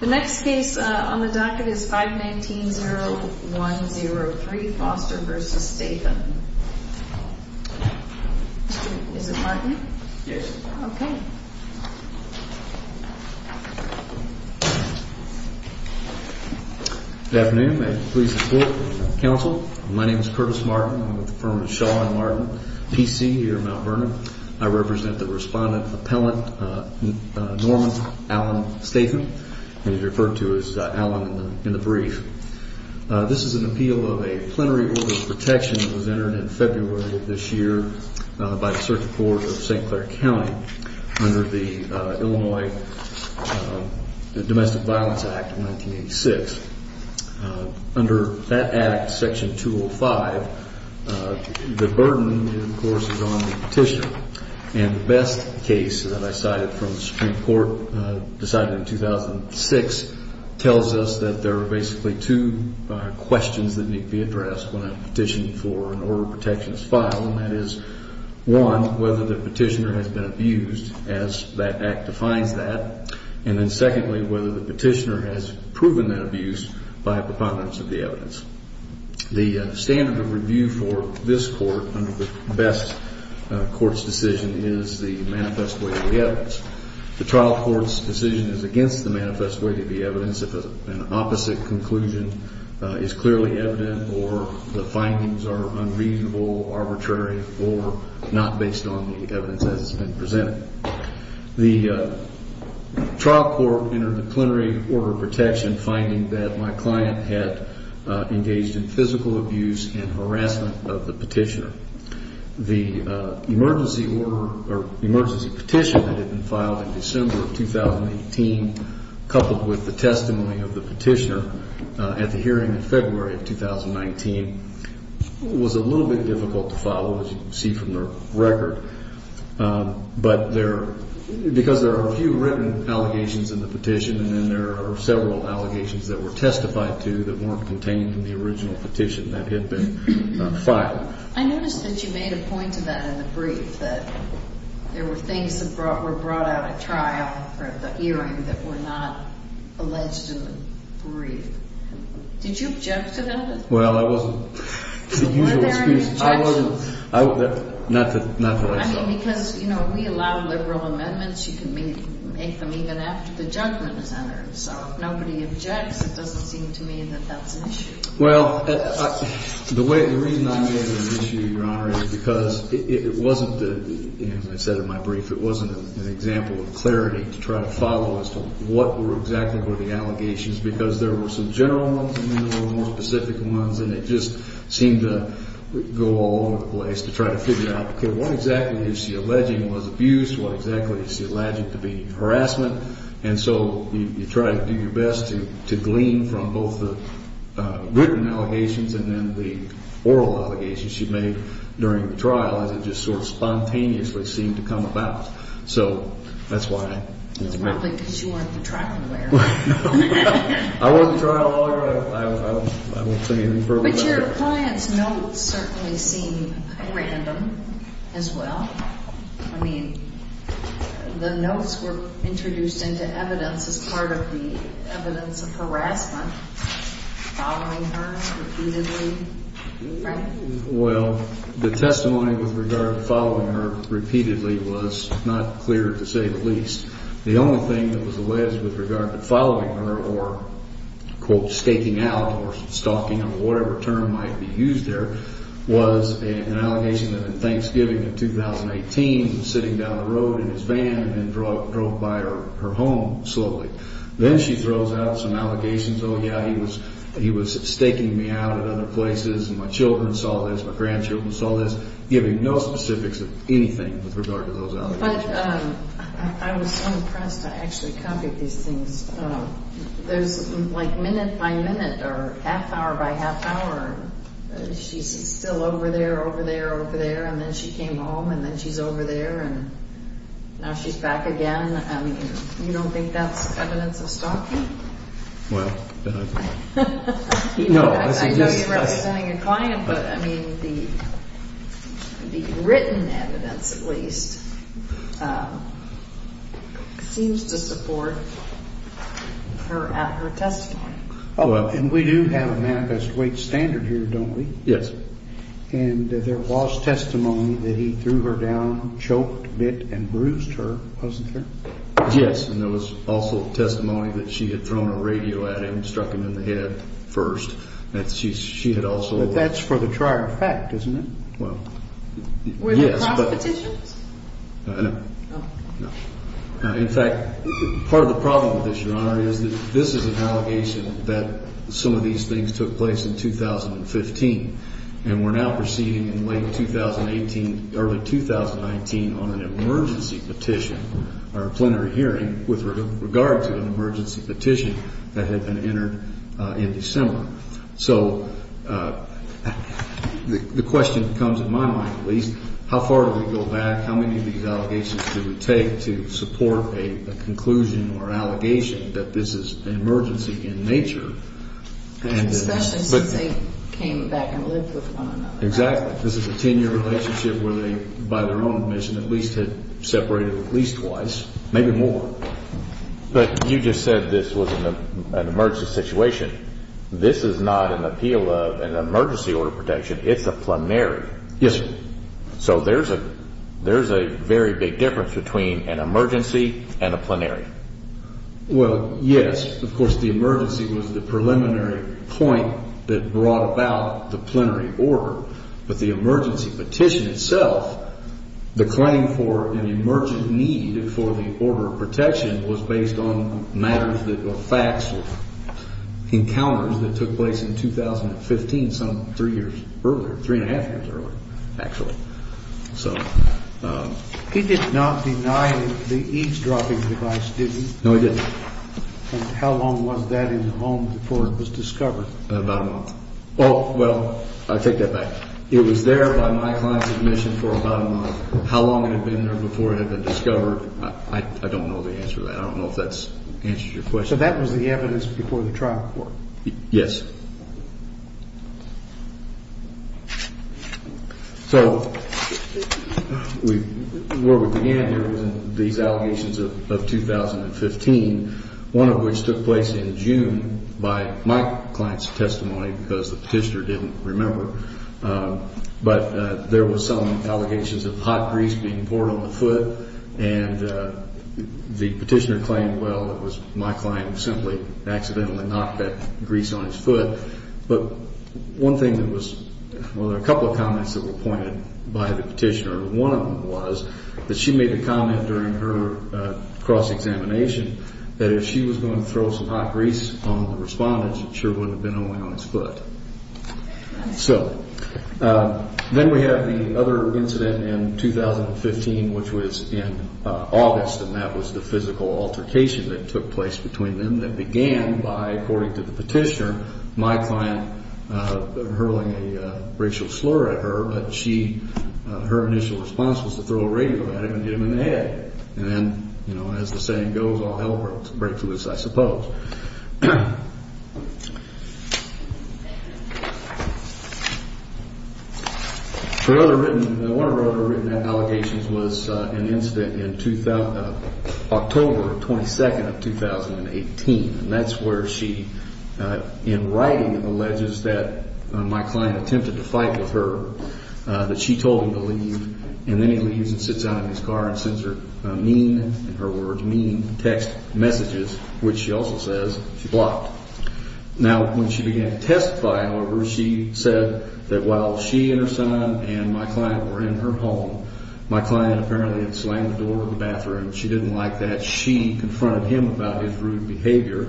The next case on the docket is 519-0103, Foster v. Stathan. Is it Martin? Yes. Okay. Good afternoon. May I please report to the counsel? My name is Curtis Martin. I'm with the firm of Shaw & Martin, PC, here in Mount Vernon. I represent the respondent appellant, Norman Allen Stathan. He's referred to as Allen in the brief. This is an appeal of a plenary order of protection that was entered in February of this year by the Search Board of St. Clair County under the Illinois Domestic Violence Act of 1986. Under that Act, Section 205, the burden, of course, is on the petitioner. And the best case that I cited from the Supreme Court, decided in 2006, tells us that there are basically two questions that need to be addressed when a petition for an order of protection is filed, and that is, one, whether the petitioner has been abused, as that Act defines that, and then secondly, whether the petitioner has proven that abuse by a preponderance of the evidence. The standard of review for this court under the best court's decision is the manifest way to the evidence. The trial court's decision is against the manifest way to the evidence if an opposite conclusion is clearly evident or the findings are unreasonable, arbitrary, or not based on the evidence as has been presented. The trial court entered the plenary order of protection, finding that my client had engaged in physical abuse and harassment of the petitioner. The emergency order or emergency petition that had been filed in December of 2018, coupled with the testimony of the petitioner at the hearing in February of 2019, was a little bit difficult to follow, as you can see from the record. But because there are a few written allegations in the petition and then there are several allegations that were testified to that weren't contained in the original petition that had been filed. I noticed that you made a point to that in the brief, that there were things that were brought out at trial at the hearing that were not alleged in the brief. Did you object to that? Were there any objections? Not that I saw. I mean, because, you know, we allow liberal amendments. You can make them even after the judgment is entered. So if nobody objects, it doesn't seem to me that that's an issue. Well, the reason I made it an issue, Your Honor, is because it wasn't, as I said in my brief, it wasn't an example of clarity to try to follow as to what exactly were the allegations, because there were some general ones and then there were more specific ones and it just seemed to go all over the place to try to figure out, okay, what exactly is she alleging was abuse? What exactly is she alleging to be harassment? And so you try to do your best to glean from both the written allegations and then the oral allegations she made during the trial as it just sort of spontaneously seemed to come about. So that's why I made it. It's probably because you weren't the trial lawyer. I wasn't the trial lawyer. I won't say anything further than that. But your client's notes certainly seem random as well. I mean, the notes were introduced into evidence as part of the evidence of harassment, following her repeatedly, right? Well, the testimony with regard to following her repeatedly was not clear, to say the least. The only thing that was alleged with regard to following her or, quote, staking out or stalking or whatever term might be used there was an allegation that on Thanksgiving of 2018, sitting down the road in his van and drove by her home slowly. Then she throws out some allegations, oh, yeah, he was staking me out at other places and my children saw this, my grandchildren saw this, giving no specifics of anything with regard to those allegations. But I was so impressed. I actually copied these things. There's like minute by minute or half hour by half hour. She's still over there, over there, over there, and then she came home, and then she's over there, and now she's back again. I mean, you don't think that's evidence of stalking? Well, no. I know you're representing a client, but, I mean, the written evidence, at least, seems to support her testimony. Oh, well, and we do have a manifest weight standard here, don't we? Yes. And there was testimony that he threw her down, choked, bit, and bruised her, wasn't there? Yes. And there was also testimony that she had thrown a radio at him, struck him in the head first. She had also ---- But that's for the trier effect, isn't it? Well, yes, but ---- Were there cross petitions? No. No. In fact, part of the problem with this, Your Honor, is that this is an allegation that some of these things took place in 2015, and we're now proceeding in late 2018, early 2019, on an emergency petition, or a plenary hearing with regard to an emergency petition that had been entered in December. So the question that comes to my mind, at least, how far do we go back? How many of these allegations do we take to support a conclusion or allegation that this is an emergency in nature? Especially since they came back and lived with one another. Exactly. This is a 10-year relationship where they, by their own admission, at least had separated at least twice, maybe more. But you just said this was an emergency situation. This is not an appeal of an emergency order protection. It's a plenary. Yes, sir. So there's a very big difference between an emergency and a plenary. Well, yes. Of course, the emergency was the preliminary point that brought about the plenary order, but the emergency petition itself, the claim for an emergent need for the order of protection, was based on matters that were facts or encounters that took place in 2015, some three years earlier, three and a half years earlier, actually. He did not deny the eavesdropping device, did he? No, he didn't. And how long was that in the home before it was discovered? About a month. Oh, well, I take that back. It was there by my client's admission for about a month. How long it had been there before it had been discovered, I don't know the answer to that. I don't know if that answers your question. So that was the evidence before the trial court? Yes. So where we began here was in these allegations of 2015, one of which took place in June by my client's testimony because the petitioner didn't remember. But there were some allegations of hot grease being poured on the foot, and the petitioner claimed, well, it was my client who simply accidentally knocked that grease on his foot. But one thing that was, well, there were a couple of comments that were pointed by the petitioner. One of them was that she made a comment during her cross-examination that if she was going to throw some hot grease on the respondent, it sure wouldn't have been only on his foot. So then we have the other incident in 2015, which was in August, and that was the physical altercation that took place between them that began by, according to the petitioner, my client hurling a racial slur at her, but her initial response was to throw a radio at him and get him in the head. And then, you know, as the saying goes, all hell breaks loose, I suppose. One of her other written allegations was an incident in October 22nd of 2018, and that's where she, in writing, alleges that my client attempted to fight with her, that she told him to leave, and then he leaves and sits down in his car and sends her mean, text messages, which she also says she blocked. Now, when she began to testify, however, she said that while she and her son and my client were in her home, my client apparently had slammed the door of the bathroom. She didn't like that. She confronted him about his rude behavior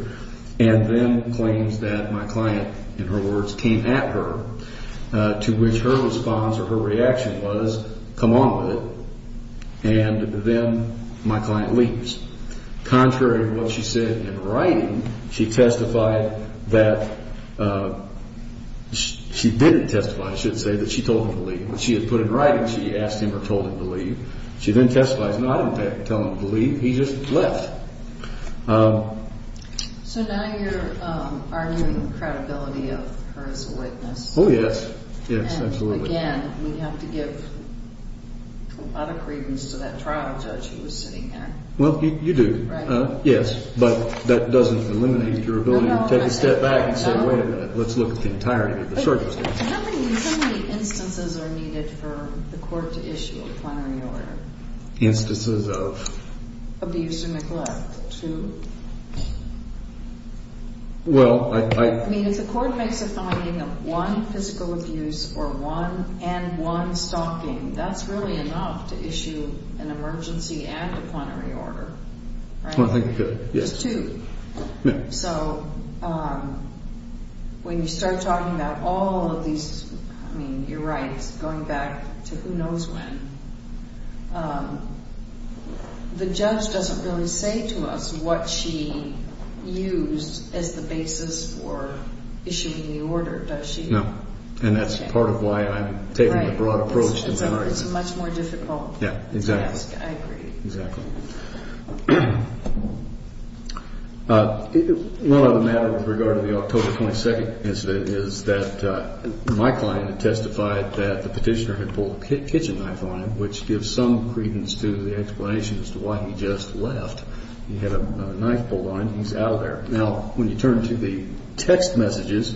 and then claims that my client, in her words, came at her, to which her response or her reaction was, come on with it, and then my client leaves. Contrary to what she said in writing, she testified that she didn't testify, I should say, that she told him to leave. What she had put in writing, she asked him or told him to leave. She then testifies, no, I didn't tell him to leave. He just left. So now you're arguing credibility of her as a witness. Oh, yes. Yes, absolutely. And, again, we have to give a lot of credence to that trial judge who was sitting there. Well, you do. Right. Yes, but that doesn't eliminate your ability to take a step back and say, wait a minute, let's look at the entirety of the circumstance. How many instances are needed for the court to issue a plenary order? Instances of? Abuse and neglect. Two? Well, I. I mean, if the court makes a finding of one physical abuse or one, and one stalking, that's really enough to issue an emergency and a plenary order, right? Well, I think that, yes. Just two? Yes. So when you start talking about all of these, I mean, you're right, it's going back to who knows when. The judge doesn't really say to us what she used as the basis for issuing the order, does she? No. And that's part of why I'm taking the broad approach to plenary. It's much more difficult. Yes, exactly. I agree. Exactly. One other matter with regard to the October 22 incident is that my client testified that the petitioner had pulled a kitchen knife on him. Which gives some credence to the explanation as to why he just left. He had a knife pulled on him. He's out of there. Now, when you turn to the text messages,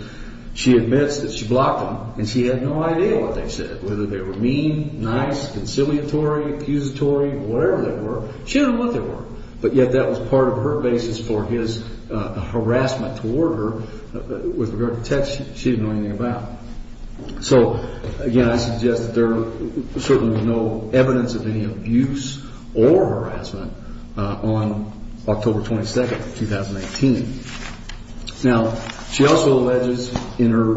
she admits that she blocked them, and she had no idea what they said, whether they were mean, nice, conciliatory, accusatory, whatever they were. She didn't know what they were. But yet that was part of her basis for his harassment toward her with regard to text she didn't know anything about. So, again, I suggest that there is certainly no evidence of any abuse or harassment on October 22, 2018. Now, she also alleges in her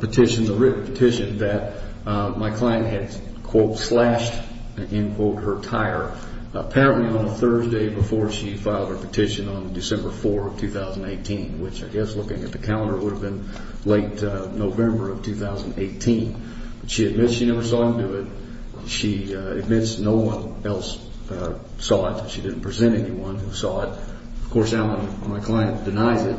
petition, the written petition, that my client had, quote, slashed, end quote, her tire, apparently on a Thursday before she filed her petition on December 4, 2018, which I guess looking at the calendar would have been late November of 2018. But she admits she never saw him do it. She admits no one else saw it. She didn't present anyone who saw it. Of course, now my client denies it.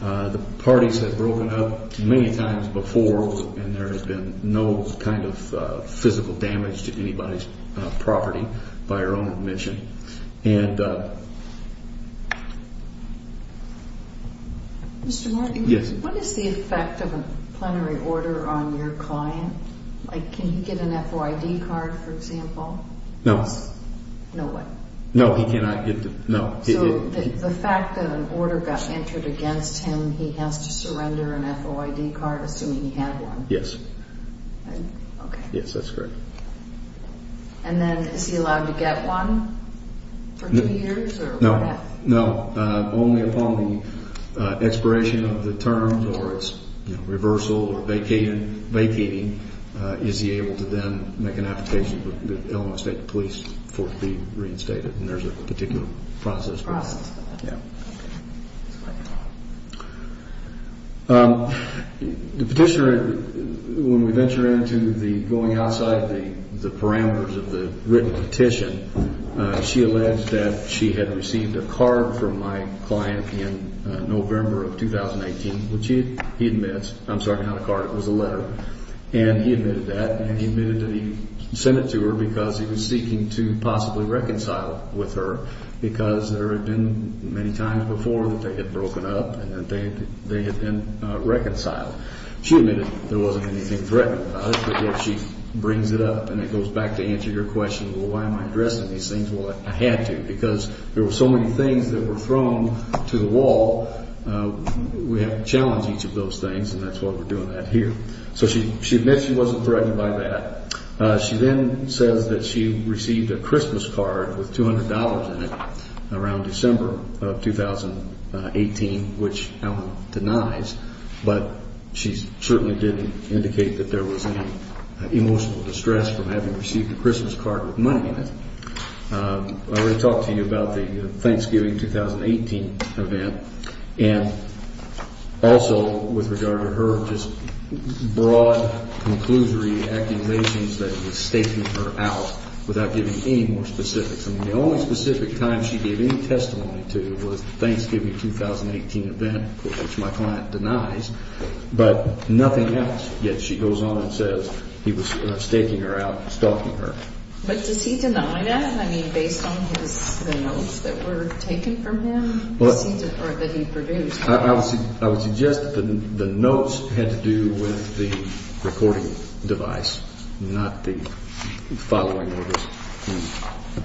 The parties have broken up many times before, and there has been no kind of physical damage to anybody's property by her own admission. And... Mr. Martin? Yes. What is the effect of a plenary order on your client? Like, can he get an FOID card, for example? No. No what? No, he cannot get the, no. So the fact that an order got entered against him, he has to surrender an FOID card, assuming he had one? Yes. Okay. Yes, that's correct. And then is he allowed to get one for two years? No. No, only upon the expiration of the terms or its reversal or vacating, is he able to then make an application to Illinois State Police for it to be reinstated. And there's a particular process for that. Process for that. Yes. The petitioner, when we venture into the going outside the parameters of the written petition, she alleged that she had received a card from my client in November of 2018, which he admits. I'm sorry, not a card. It was a letter. And he admitted that, and he admitted that he sent it to her because he was seeking to possibly reconcile with her, because there had been many times before that they had broken up and they had been reconciled. She admitted there wasn't anything threatening about it, but yet she brings it up and it goes back to answer your question, well, why am I addressing these things? Well, I had to because there were so many things that were thrown to the wall. We have to challenge each of those things, and that's why we're doing that here. So she admits she wasn't threatened by that. She then says that she received a Christmas card with $200 in it around December of 2018, which Allen denies, but she certainly didn't indicate that there was any emotional distress from having received a Christmas card with money in it. I already talked to you about the Thanksgiving 2018 event, and also with regard to her just broad, conclusory accusations that he was staking her out without giving any more specifics. I mean, the only specific time she gave any testimony to was the Thanksgiving 2018 event, which my client denies, but nothing else, yet she goes on and says he was staking her out, stalking her. But does he deny that? Based on the notes that were taken from him, or that he produced? I would suggest that the notes had to do with the recording device, not the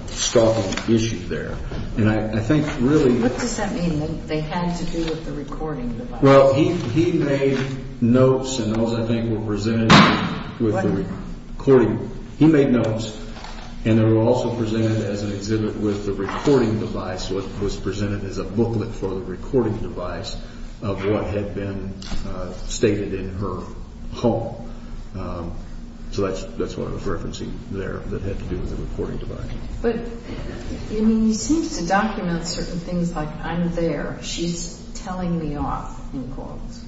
stalking issue there. What does that mean, that they had to do with the recording device? Well, he made notes, and those, I think, were presented with the recording. He made notes, and they were also presented as an exhibit with the recording device, what was presented as a booklet for the recording device of what had been stated in her home. So that's what I was referencing there that had to do with the recording device. But, I mean, he seems to document certain things like, I'm there, she's telling me off, in quotes.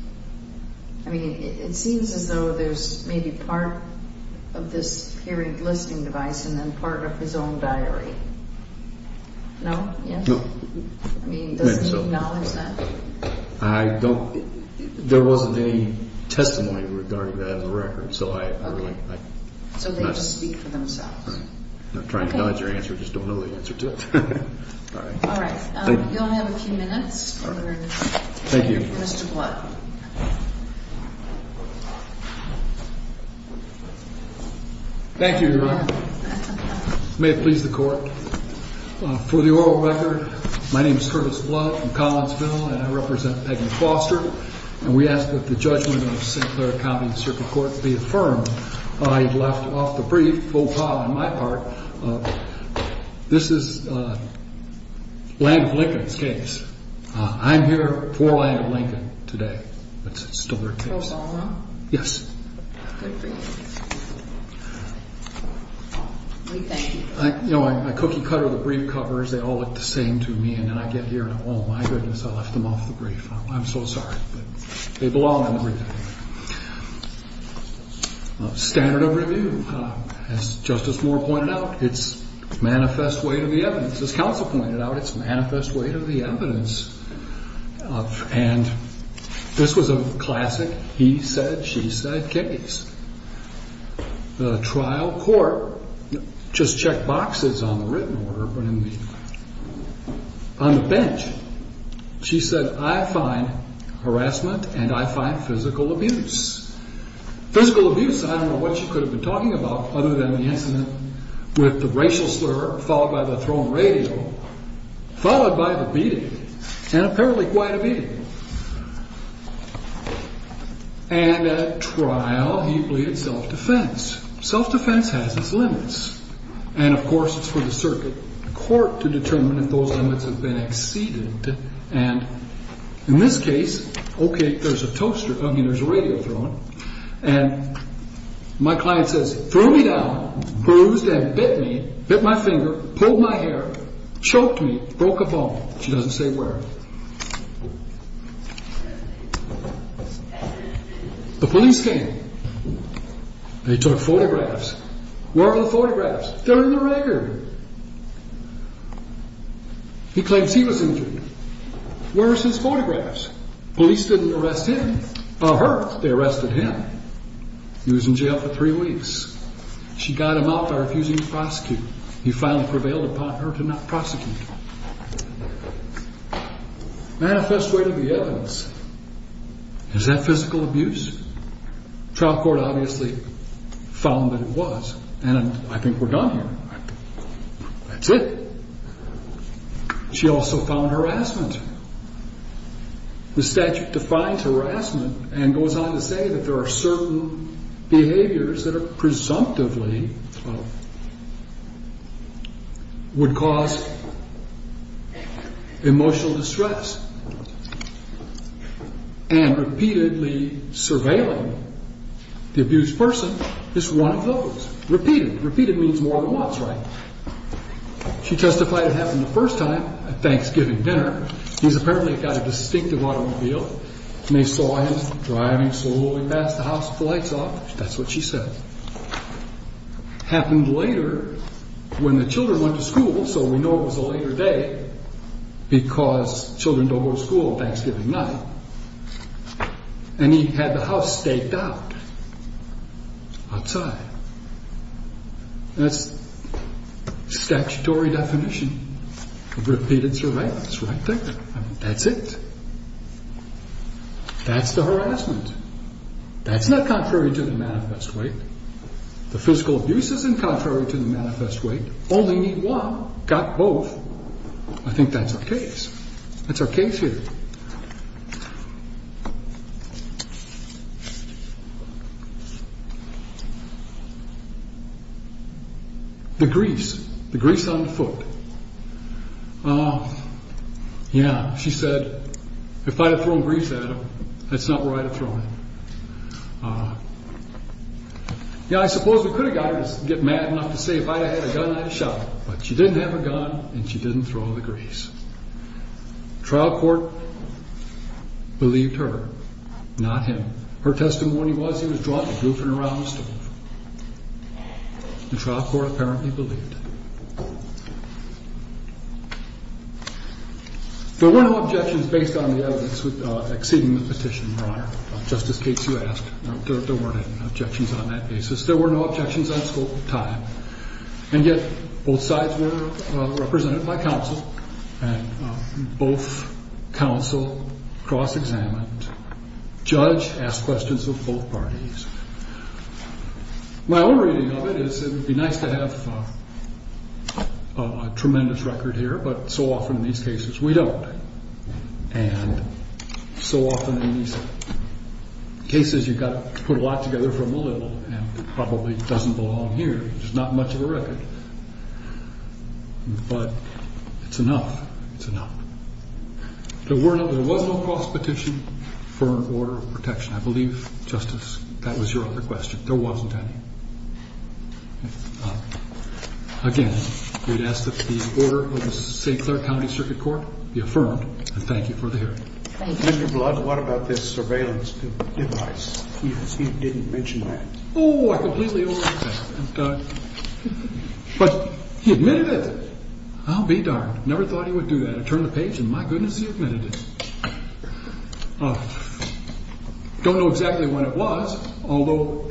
I mean, it seems as though there's maybe part of this hearing-listening device and then part of his own diary. No? Yes? No. I mean, does he acknowledge that? I don't. There wasn't any testimony regarding that in the record. So they just speak for themselves. I'm not trying to acknowledge her answer, I just don't know the answer to it. All right. You only have a few minutes. Thank you. Mr. Blunt. Thank you, Your Honor. May it please the Court. For the oral record, my name is Curtis Blunt from Collinsville, and I represent Peggy Foster, and we ask that the judgment of St. Clair County District Court be affirmed. I left off the brief faux pas on my part. This is Land of Lincoln's case. I'm here for Land of Lincoln today, but it's still their case. Obama? Yes. Good grief. We thank you. You know, I cookie-cutter the brief covers, they all look the same to me, and then I get here and, oh, my goodness, I left them off the brief. I'm so sorry, but they belong in the brief. Standard of review, as Justice Moore pointed out, it's manifest weight of the evidence. As counsel pointed out, it's manifest weight of the evidence. And this was a classic he said, she said case. The trial court just checked boxes on the written order, but on the bench she said, I find harassment and I find physical abuse. Physical abuse, I don't know what she could have been talking about other than the incident with the racial slur followed by the thrown radio, followed by the beating, and apparently quite a beating. And at trial, he pleaded self-defense. Self-defense has its limits. And, of course, it's for the circuit court to determine if those limits have been exceeded. And in this case, okay, there's a toaster, I mean, there's a radio thrown, and my client says, threw me down, bruised and bit me, bit my finger, pulled my hair, choked me, broke a bone. She doesn't say where. The police came. They took photographs. Where are the photographs? They're in the record. He claims he was injured. Where is his photographs? Police didn't arrest him, her, they arrested him. He was in jail for three weeks. She got him out by refusing to prosecute. He finally prevailed upon her to not prosecute him. Manifest way to the evidence. Is that physical abuse? Trial court obviously found that it was, and I think we're done here. That's it. She also found harassment. The statute defines harassment and goes on to say that there are certain behaviors that are presumptively would cause emotional distress. And repeatedly surveilling the abused person is one of those. Repeated. Repeated means more than once, right? She testified it happened the first time at Thanksgiving dinner. He's apparently got a distinctive automobile, and they saw him driving slowly past the house with the lights off. That's what she said. Happened later when the children went to school, so we know it was a later day because children don't go to school on Thanksgiving night. And he had the house staked out outside. That's statutory definition. Repeated surveillance, right there. That's it. That's the harassment. That's not contrary to the manifest way. The physical abuse isn't contrary to the manifest way. Only need one. Got both. I think that's our case. That's our case here. The grease. The grease on the foot. Yeah, she said, if I'd have thrown grease at him, that's not where I'd have thrown it. Yeah, I suppose we could have got her to get mad enough to say if I had a gun, I'd have shot him. But she didn't have a gun, and she didn't throw the grease. Trial court believed her, not him. Her testimony was he was drunk and goofing around the stove. The trial court apparently believed it. There were no objections based on the evidence exceeding the petition, Your Honor, just in case you asked. There weren't any objections on that basis. There were no objections on scope of time. And yet both sides were represented by counsel, and both counsel cross-examined. Judge asked questions of both parties. My own reading of it is it would be nice to have a tremendous record here, but so often in these cases we don't. And so often in these cases you've got to put a lot together from a little, and it probably doesn't belong here. There's not much of a record. But it's enough. It's enough. There was no cross-petition for an order of protection. I believe, Justice, that was your other question. There wasn't any. Again, we'd ask that the order of the St. Clair County Circuit Court be affirmed, and thank you for the hearing. Thank you. Mr. Blood, what about this surveillance device? He didn't mention that. Oh, I completely overlooked that. But he admitted it. I'll be darned. Never thought he would do that. I turned the page, and my goodness, he admitted it. Don't know exactly when it was, although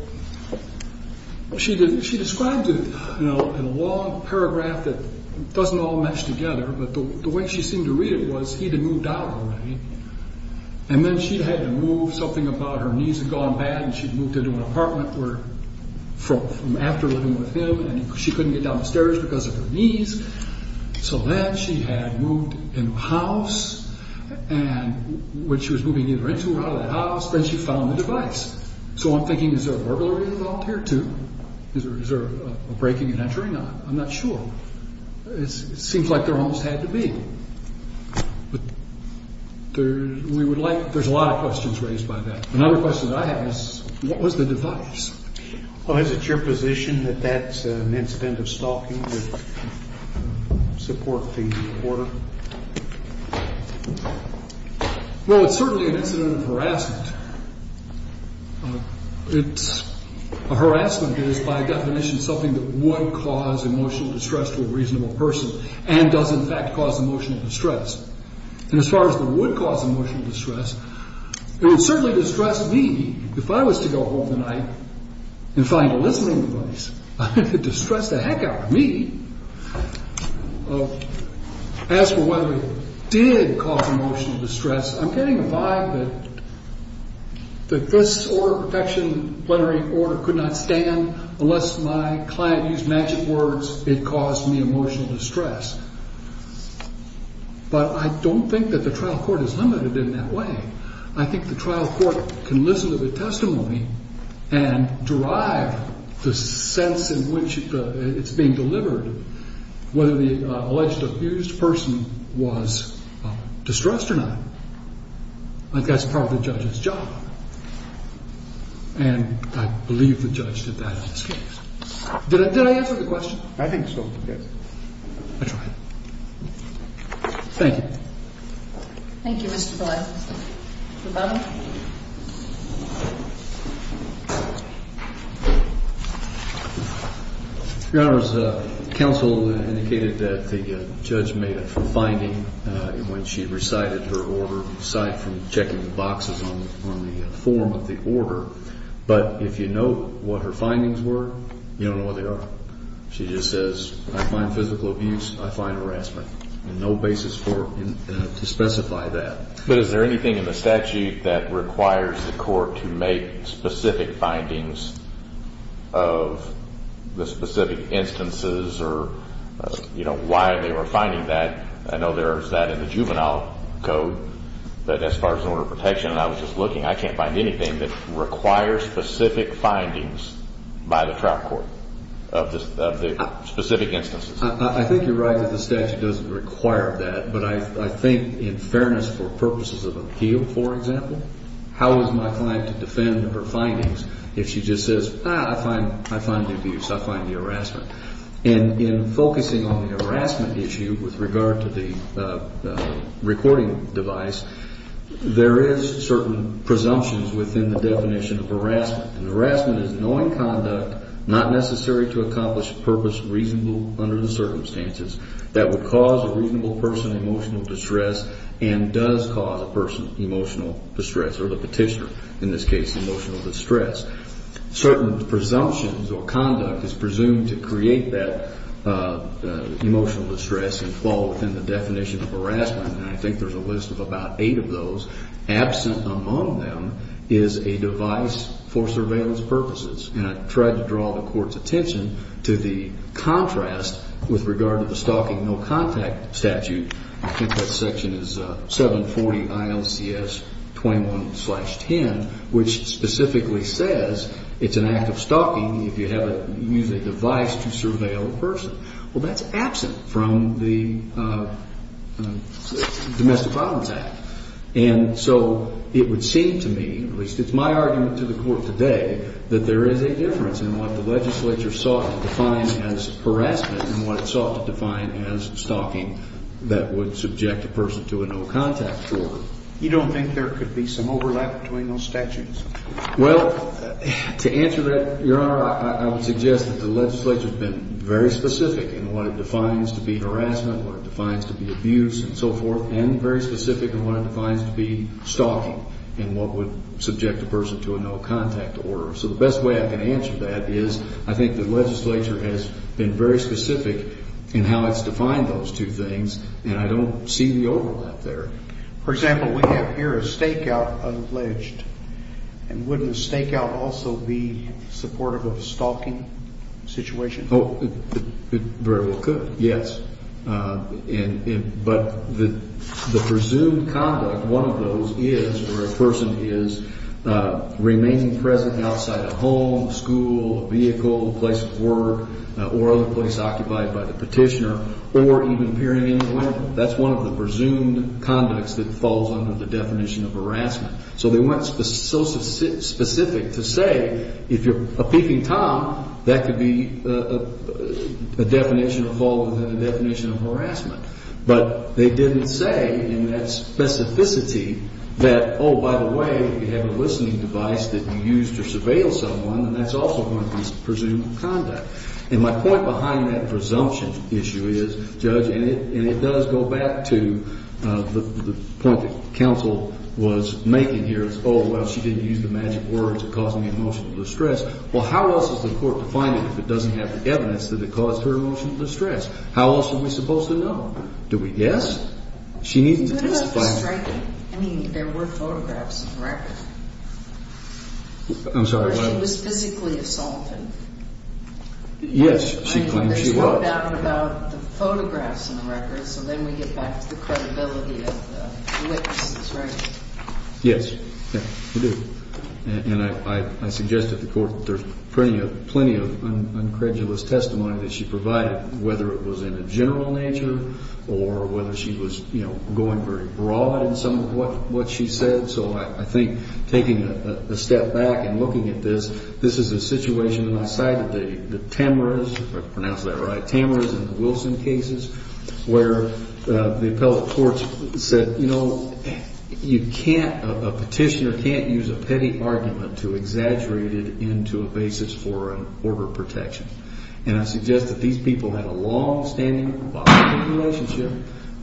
she describes it in a long paragraph that doesn't all match together, but the way she seemed to read it was he'd moved out already, and then she'd had to move something about her knees had gone bad, and she'd moved into an apartment from after living with him, and she couldn't get down the stairs because of her knees. So then she had moved into a house, and when she was moving either into or out of that house, then she found the device. So I'm thinking is there a burglary involved here too? Is there a breaking and entering? I'm not sure. It seems like there almost had to be. There's a lot of questions raised by that. Another question that I have is what was the device? Well, is it your position that that's an incident of stalking to support the reporter? Well, it's certainly an incident of harassment. It's a harassment that is by definition something that would cause emotional distress to a reasonable person and does in fact cause emotional distress. And as far as what would cause emotional distress, it would certainly distress me. If I was to go home tonight and find a listening device, it would distress the heck out of me. As for whether it did cause emotional distress, I'm getting a vibe that this order of protection, plenary order, could not stand unless my client used magic words. It caused me emotional distress. But I don't think that the trial court is limited in that way. I think the trial court can listen to the testimony and derive the sense in which it's being delivered, whether the alleged abused person was distressed or not. I think that's part of the judge's job. And I believe the judge did that in this case. Did I answer the question? I think so, yes. I tried. Thank you. Thank you, Mr. Boyle. Mr. Bonner. Your Honors, counsel indicated that the judge made a finding when she recited her order, aside from checking the boxes on the form of the order. But if you know what her findings were, you don't know what they are. She just says, I find physical abuse, I find harassment. And no basis to specify that. But is there anything in the statute that requires the court to make specific findings of the specific instances or, you know, why they were finding that? I know there is that in the juvenile code. But as far as an order of protection, and I was just looking, I can't find anything that requires specific findings by the trial court of the specific instances. I think you're right that the statute doesn't require that. But I think in fairness for purposes of appeal, for example, how is my client to defend her findings if she just says, I find abuse, I find harassment. And in focusing on the harassment issue with regard to the recording device, there is certain presumptions within the definition of harassment. And harassment is knowing conduct not necessary to accomplish a purpose reasonable under the circumstances that would cause a reasonable person emotional distress and does cause a person emotional distress or the petitioner, in this case, emotional distress. Certain presumptions or conduct is presumed to create that emotional distress and fall within the definition of harassment. And I think there's a list of about eight of those. Absent among them is a device for surveillance purposes. And I tried to draw the court's attention to the contrast with regard to the stalking no contact statute. I think that section is 740 ILCS 21-10, which specifically says it's an act of stalking if you use a device to surveil a person. Well, that's absent from the Domestic Problems Act. And so it would seem to me, at least it's my argument to the court today, that there is a difference in what the legislature sought to define as harassment and what it sought to define as stalking that would subject a person to a no contact order. You don't think there could be some overlap between those statutes? Well, to answer that, Your Honor, I would suggest that the legislature has been very specific in what it defines to be harassment, what it defines to be abuse, and so forth, and very specific in what it defines to be stalking and what would subject a person to a no contact order. So the best way I can answer that is I think the legislature has been very specific in how it's defined those two things, and I don't see the overlap there. For example, we have here a stakeout alleged. And would the stakeout also be supportive of a stalking situation? It very well could, yes. But the presumed conduct, one of those is where a person is remaining present outside a home, a school, a vehicle, a place of work, or other place occupied by the petitioner, or even appearing in the window. That's one of the presumed conducts that falls under the definition of harassment. So they weren't so specific to say, if you're a peeping tom, that could be a definition or fall within the definition of harassment. But they didn't say in that specificity that, oh, by the way, you have a listening device that you use to surveil someone, and that's also one of the presumed conduct. And my point behind that presumption issue is, Judge, and it does go back to the point that counsel was making here, is, oh, well, she didn't use the magic words that caused me emotional distress. Well, how else is the court to find it if it doesn't have the evidence that it caused her emotional distress? How else are we supposed to know? Do we guess? She needs to testify. I mean, there were photographs of the record. I'm sorry. She was physically assaulted. Yes, she claims she was. I know there's no doubt about the photographs in the records, so then we get back to the credibility of the witnesses, right? Yes, yes, we do. And I suggest to the court that there's plenty of uncredulous testimony that she provided, whether it was in a general nature or whether she was, you know, going very broad in some of what she said. So I think taking a step back and looking at this, this is a situation outside of the Tamras, if I pronounced that right, Tamras and Wilson cases, where the appellate courts said, you know, you can't, a petitioner can't use a petty argument to exaggerate it into a basis for an order of protection. And I suggest that these people had a longstanding, volatile relationship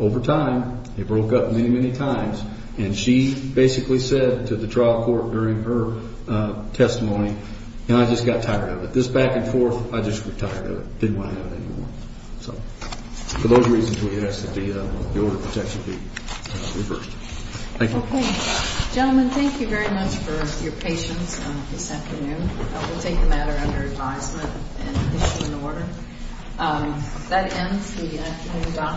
over time. They broke up many, many times. And she basically said to the trial court during her testimony, you know, I just got tired of it. This back and forth, I just got tired of it. Didn't want to have it anymore. So for those reasons, we ask that the order of protection be reversed. Thank you. Okay. Gentlemen, thank you very much for your patience this afternoon. We'll take the matter under advisement and issue an order.